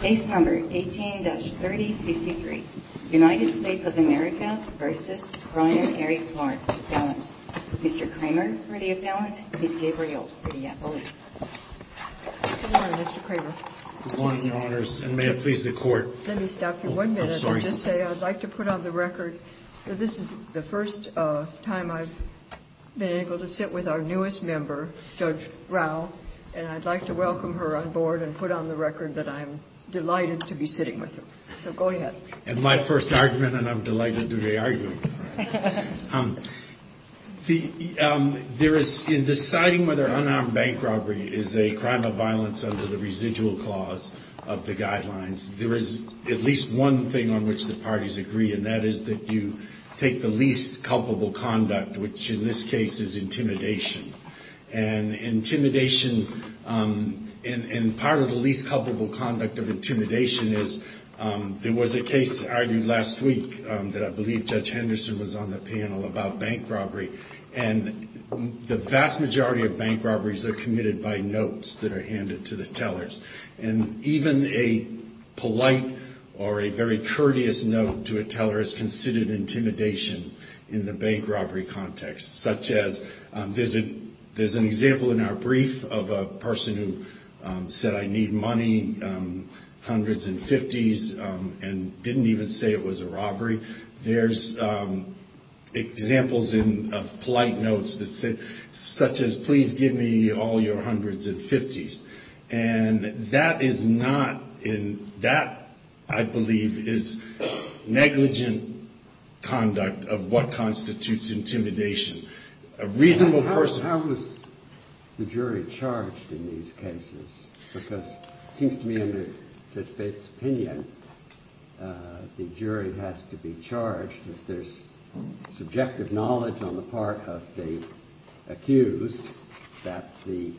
18-3053. United States of America v. Brian Eric Clark. Mr. Kramer for the appellant. Ms. Gabriel for the appellant. Good morning, Mr. Kramer. Good morning, Your Honors, and may it please the Court. Let me stop you one minute and just say I'd like to put on the record that this is the first time I've been able to sit with our newest member, Judge Rao, and I'd like to welcome her on board and put on the record that I'm delighted to be sitting with her. So go ahead. And my first argument, and I'm delighted to be arguing with her. In deciding whether unarmed bank robbery is a crime of violence under the residual clause of the guidelines, there is at least one thing on which the parties agree, and which in this case is intimidation. And intimidation, and part of the least culpable conduct of intimidation is there was a case argued last week that I believe Judge Henderson was on the panel about bank robbery. And the vast majority of bank robberies are committed by notes that are handed to the tellers. And even a polite or a very courteous note to a teller is considered intimidation in the bank robbery context, such as there's an example in our brief of a person who said, I need money, hundreds and fifties, and didn't even say it was a robbery. There's examples of polite notes that said, such as, please give me all your hundreds and fifties. And that is not in, that I believe is negligent conduct of what constitutes intimidation. A reasonable person. How is the jury charged in these cases? Because it seems to me under Judge Bates' opinion, the jury has to be charged if there's subjective knowledge on the part of the accused, that the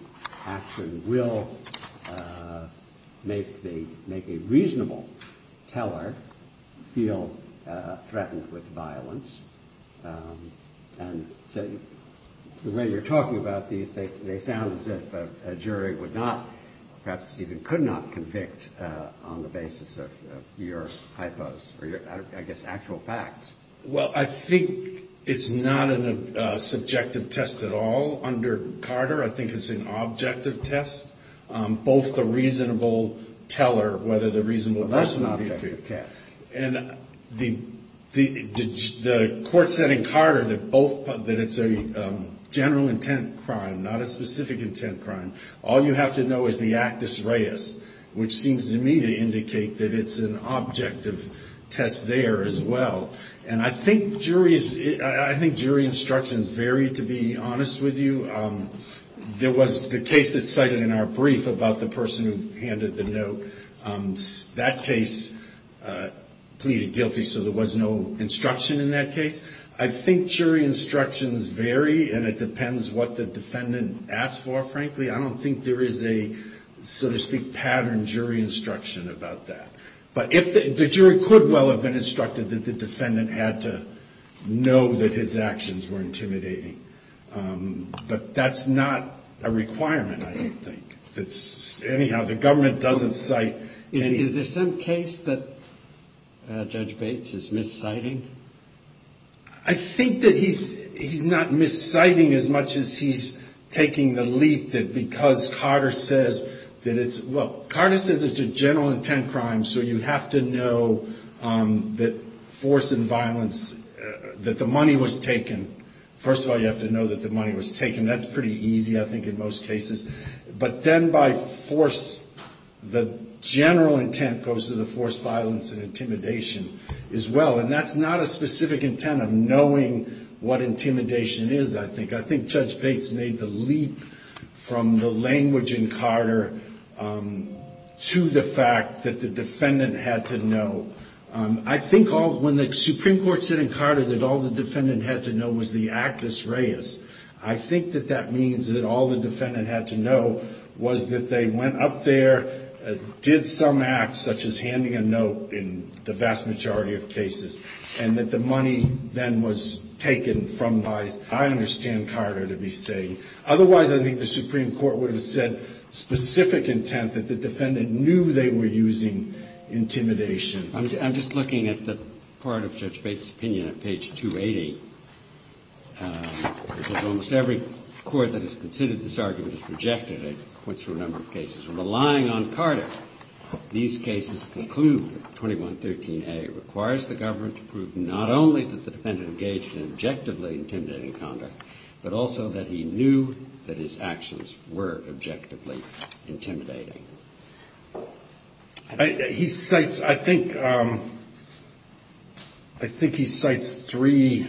action will make a reasonable teller feel threatened with violence. And the way you're talking about these, they sound as if a jury would not, perhaps even could not, convict on the basis of your hypos, or your, I guess, actual facts. Well, I think it's not a subjective test at all. Under Carter, I think it's an objective test. Both the reasonable teller, whether the reasonable person. But that's an objective test. And the court said in Carter that both, that it's a general intent crime, not a specific intent crime. All you have to know is the actus reus, which seems to me to indicate that it's an objective test there as well. And I think jury instructions vary, to be honest with you. There was the case that's cited in our brief about the person who handed the note. That case pleaded guilty, so there was no instruction in that case. I think jury instructions vary, and it depends what the case is. More frankly, I don't think there is a, so to speak, pattern jury instruction about that. But if the jury could well have been instructed that the defendant had to know that his actions were intimidating. But that's not a requirement, I don't think. Anyhow, the government doesn't cite. Is there some case that Judge Bates is misciting? I think that he's not misciting as much as he's taking the leap that because Carter says that it's, well, Carter says it's a general intent crime, so you have to know that force and violence, that the money was taken. First of all, you have to know that the money was taken. That's pretty easy, I think, in most cases. But then by force, the general intent goes to the force, violence, and intimidation as well. And that's not a specific intent of knowing what intimidation is, I think. I think Judge Bates made the leap from the language in Carter to the fact that the defendant had to know. I think when the Supreme Court said in Carter that all the defendant had to know was the actus reus, I think that that means that all the defendant had to know was that they went up there, did some act such as handing a note in the vast majority of cases, and that the money then was taken from by, I understand Carter to be saying. Otherwise, I think the Supreme Court would have said specific intent, that the defendant knew they were using intimidation. I'm just looking at the part of Judge Bates' opinion at page 288, which is almost every court that has considered this argument has rejected it. It points to a number of cases. Relying on Carter, these cases conclude that 2113A requires the government to prove not only that the defendant engaged in objectively intimidating conduct, but also that he knew that his actions were objectively intimidating. I think he cites three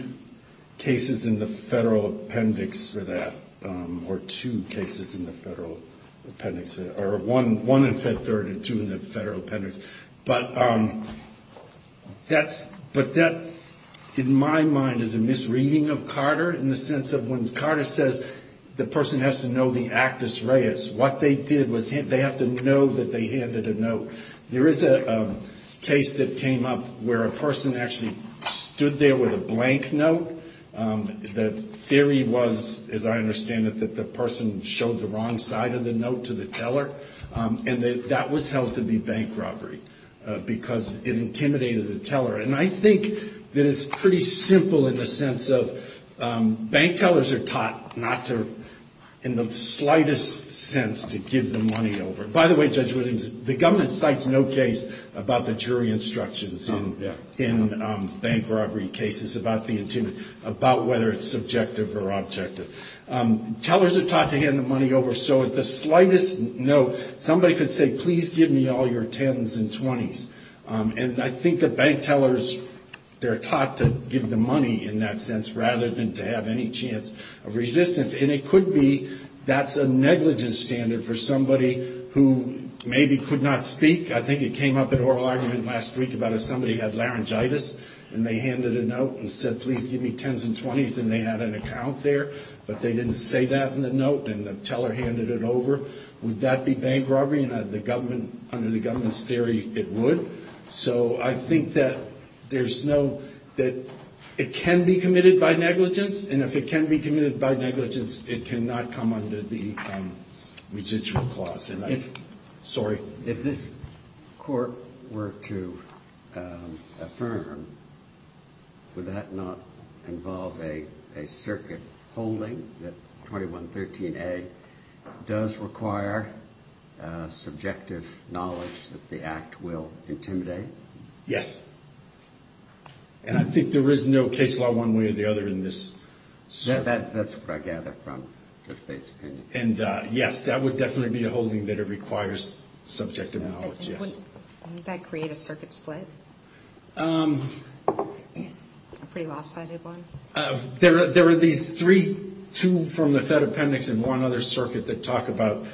cases in the federal appendix for that, or two cases in the federal appendix, or one in Fed Third and two in the federal appendix. But that, in my mind, is a misreading of Carter in the sense of when Carter says the person has to know the actus reus, what they did was they have to know that they handed a note. There is a case that came up where a person actually stood there with a blank note. The theory was, as I understand it, that the person showed the wrong side of the note to the teller, and that that was held to be bank robbery because it intimidated the teller. And I think that it's pretty simple in the sense of bank tellers are taught not to, in the slightest sense, to give the money over. By the way, Judge Relying, the government cites no case about the jury instructions in bank robbery cases about whether it's subjective or objective. Tellers are taught to hand the money over, so at the slightest note, somebody could say, please give me all your 10s and 20s. And I think that bank tellers, they're taught to give the It's a negligence standard for somebody who maybe could not speak. I think it came up in oral argument last week about if somebody had laryngitis and they handed a note and said, please give me 10s and 20s, and they had an account there, but they didn't say that in the note and the teller handed it over, would that be bank robbery? And under the government's theory, it would. So I think that it can be committed by negligence, and if it can be committed by negligence, it would be from residual clause. And if, sorry. If this Court were to affirm, would that not involve a circuit holding that 2113A does require subjective knowledge that the Act will intimidate? Yes. And I think there is no case law one way or the other in this. That's what I gather from Judge Bates' opinion. And yes, that would definitely be a holding that it requires subjective knowledge, yes. Wouldn't that create a circuit split? A pretty lopsided one? There are these three, two from the Fed Appendix and one other circuit that talk about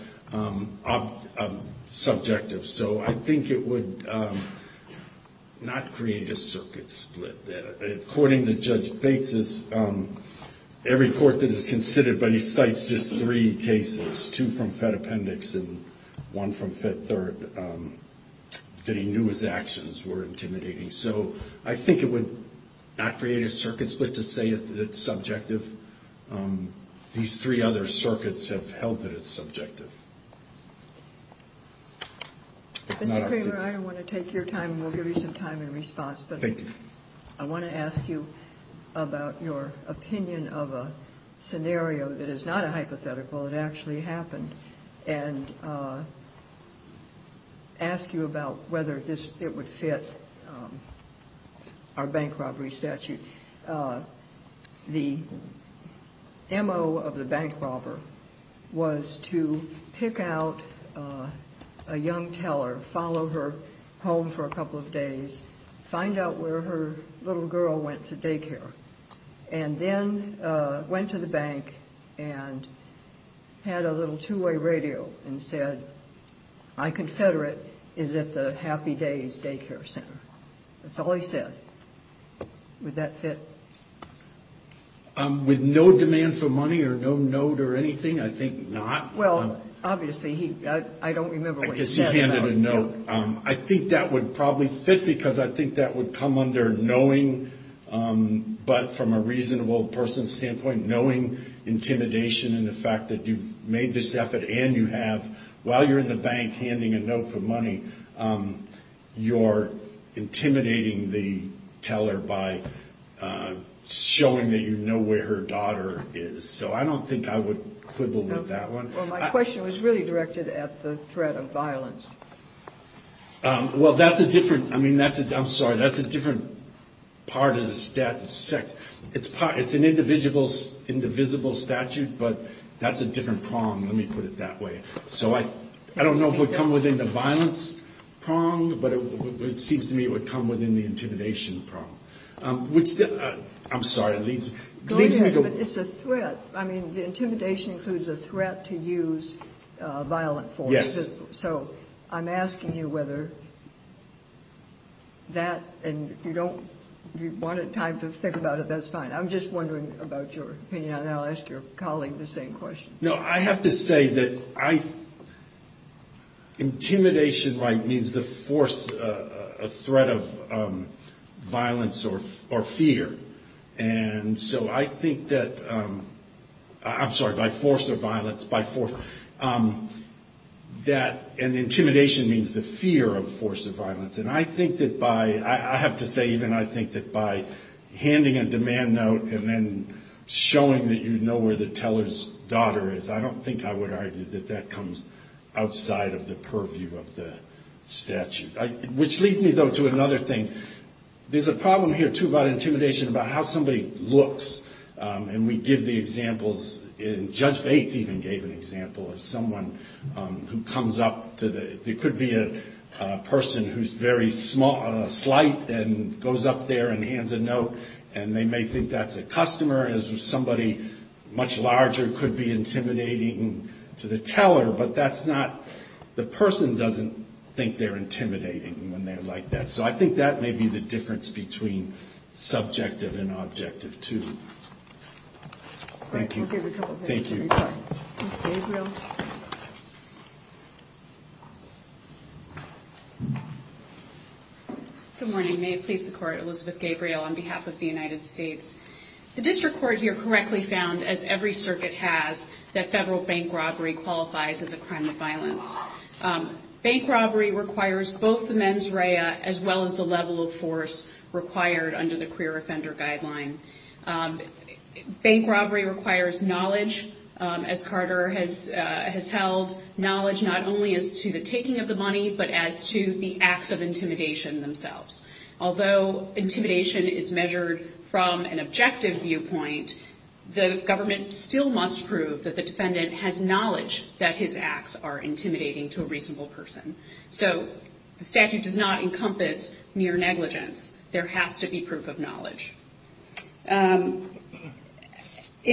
subjective. So I think it would not create a circuit split. According to Judge Bates, every court that is considered, but he cites just three cases, two from Fed Appendix and one from Fed Third, that he knew his actions were intimidating. So I think it would not create a circuit split to say it's subjective. These three other circuits have held that it's subjective. Mr. Kramer, I want to take your time and we'll give you some time in response. Thank you. I want to ask you about your opinion of a scenario that is not a hypothetical, it actually happened, and ask you about whether this, it would fit our bank robbery statute. The M.O. of the bank robber was to pick out a young teller, follow her home for a couple of days, find out where her little girl went to daycare, and then went to the bank and had a little two-way radio and said, My confederate is at the Happy Days Daycare Center. That's all he said. Would that fit? With no demand for money or no note or anything, I think not. Well, obviously, I don't remember what he said. I guess he handed a note. I think that would probably fit because I think that would come under knowing, but from a reasonable person's standpoint, knowing intimidation and the fact that you've made this effort and you have, while you're in the bank handing a note for money, you're intimidating the teller by showing that you know where her daughter is. So I don't think I would quibble with that one. Well, my question was really directed at the threat of violence. Well, that's a different, I mean, that's a, I'm sorry, that's a different part of the statute. It's an indivisible statute, but that's a different prong. Let me put it that way. So I don't know if it would come within the violence prong, but it seems to me it would come within the intimidation prong, which I'm sorry. It's a threat. I mean, the intimidation includes a threat to use violent force. Yes. So I'm asking you whether that, and if you don't, if you want time to think about it, that's fine. I'm just wondering about your opinion, and then I'll ask your colleague the same question. No, I have to say that intimidation right means the force, a threat of violence or fear. And so I think that, I'm sorry, by force or violence, by force, that intimidation means the fear of force or violence. And I think that by, I have to say even I think that by handing a demand note and then showing that you know where the teller's daughter is, I don't think I would argue that that comes outside of the purview of the statute. Which leads me though to another thing. There's a problem here too about intimidation about how somebody looks. And we give the examples, and Judge Bates even gave an example of someone who comes up to the, it could be a person who's very slight and goes up there and hands a note, and they may think that's a customer, and somebody much larger could be intimidating to the teller, but that's not, the person doesn't think they're intimidating when they're like that. So I think that may be the difference between subjective and objective too. Thank you. Thank you. Ms. Gabriel. Good morning. May it please the Court, Elizabeth Gabriel on behalf of the United States. The district court here correctly found as every circuit has, that federal bank robbery qualifies as a crime of violence. Bank robbery requires both the mens rea as well as the level of force required under the queer offender guideline. Bank robbery requires knowledge, as Carter has held, knowledge not only as to the taking of the money but as to the acts of intimidation themselves. Although intimidation is measured from an objective viewpoint, the government still must prove that the defendant has knowledge that his acts are intimidating to a reasonable person. So the statute does not encompass mere negligence. There has to be proof of knowledge. In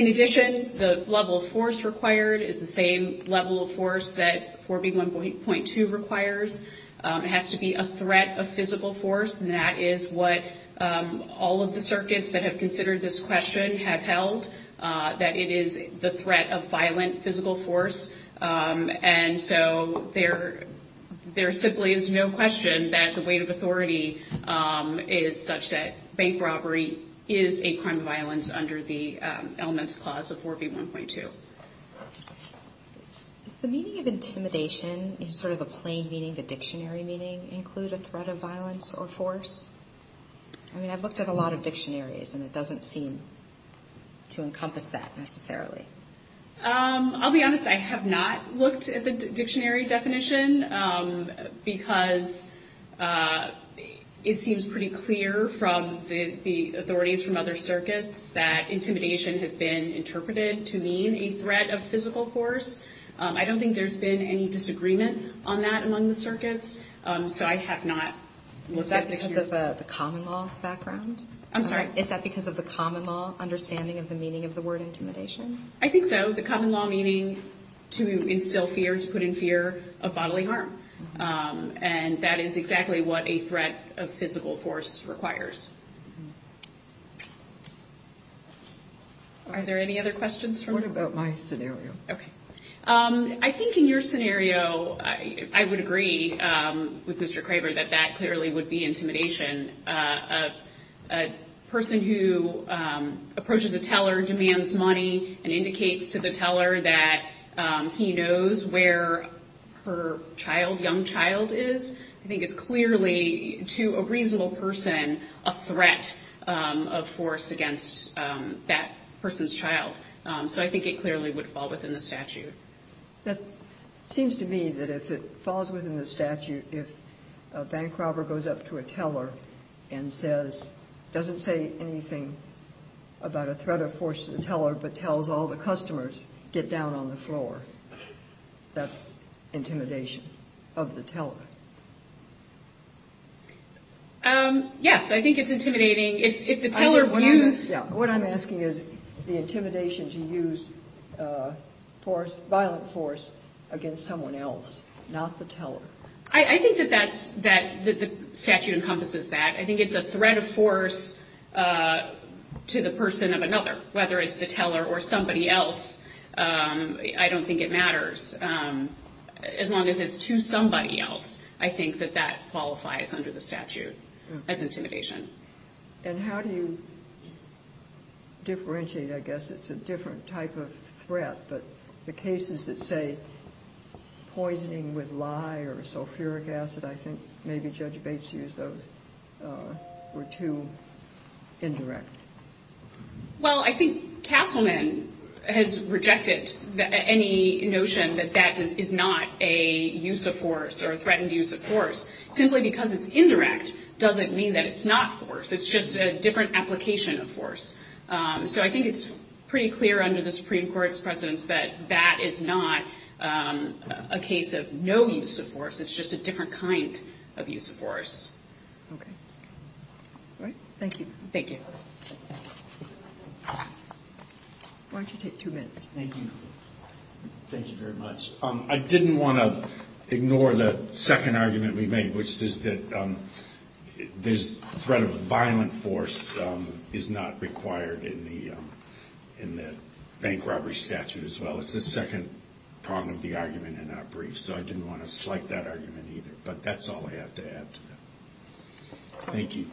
addition, the level of force required is the same level of force that 4B1.2 requires. It has to be a threat of physical force, and that is what all of the circuits that have considered this question have held, that it is the threat of violent physical force. And so there simply is no question that the weight of authority is such that bank robbery is a crime of violence under the elements clause of 4B1.2. Does the meaning of intimidation in sort of the plain meaning, the dictionary meaning, include a threat of violence or force? I mean, I've looked at a lot of dictionaries, and it doesn't seem to encompass that necessarily. I'll be honest. I have not looked at the dictionary definition because it seems pretty clear from the authorities from other circuits that intimidation has been interpreted to mean a threat of physical force. I don't think there's been any disagreement on that among the circuits, so I have not looked at it. Is that because of the common law background? I'm sorry? Is that because of the common law understanding of the meaning of the word intimidation? I think so. The common law meaning to instill fear, to put in fear of bodily harm. And that is exactly what a threat of physical force requires. Are there any other questions? What about my scenario? Okay. I think in your scenario, I would agree with Mr. Craver that that clearly would be intimidation. A person who approaches a teller, demands money, and indicates to the teller that he knows where her child, young child is, I think is clearly, to a reasonable person, a threat of force against that person's child. So I think it clearly would fall within the statute. It seems to me that if it falls within the statute, if a bank robber goes up to a teller and says, doesn't say anything about a threat of force to the teller, but tells all the customers, get down on the floor, that's intimidation of the teller. I think it's intimidating. What I'm asking is the intimidation to use force, violent force, against someone else, not the teller. I think that the statute encompasses that. I think it's a threat of force to the person of another, whether it's the teller or somebody else. I don't think it matters, as long as it's to somebody else. I think that that qualifies under the statute as intimidation. And how do you differentiate, I guess, it's a different type of threat, but the cases that say, poisoning with lye or sulfuric acid, I think maybe Judge Bates used those, were too indirect. Well, I think Castleman has rejected any notion that that is not a use of force or a threaten to use force. Simply because it's indirect doesn't mean that it's not force. It's just a different application of force. So I think it's pretty clear under the Supreme Court's precedence that that is not a case of no use of force. It's just a different kind of use of force. Okay. All right. Thank you. Thank you. Why don't you take two minutes? Thank you. Thank you very much. I didn't want to ignore the second argument we made, which is that the threat of violent force is not required in the bank robbery statute as well. It's the second prong of the argument in our brief. So I didn't want to slight that argument either. But that's all I have to add to that. Thank you.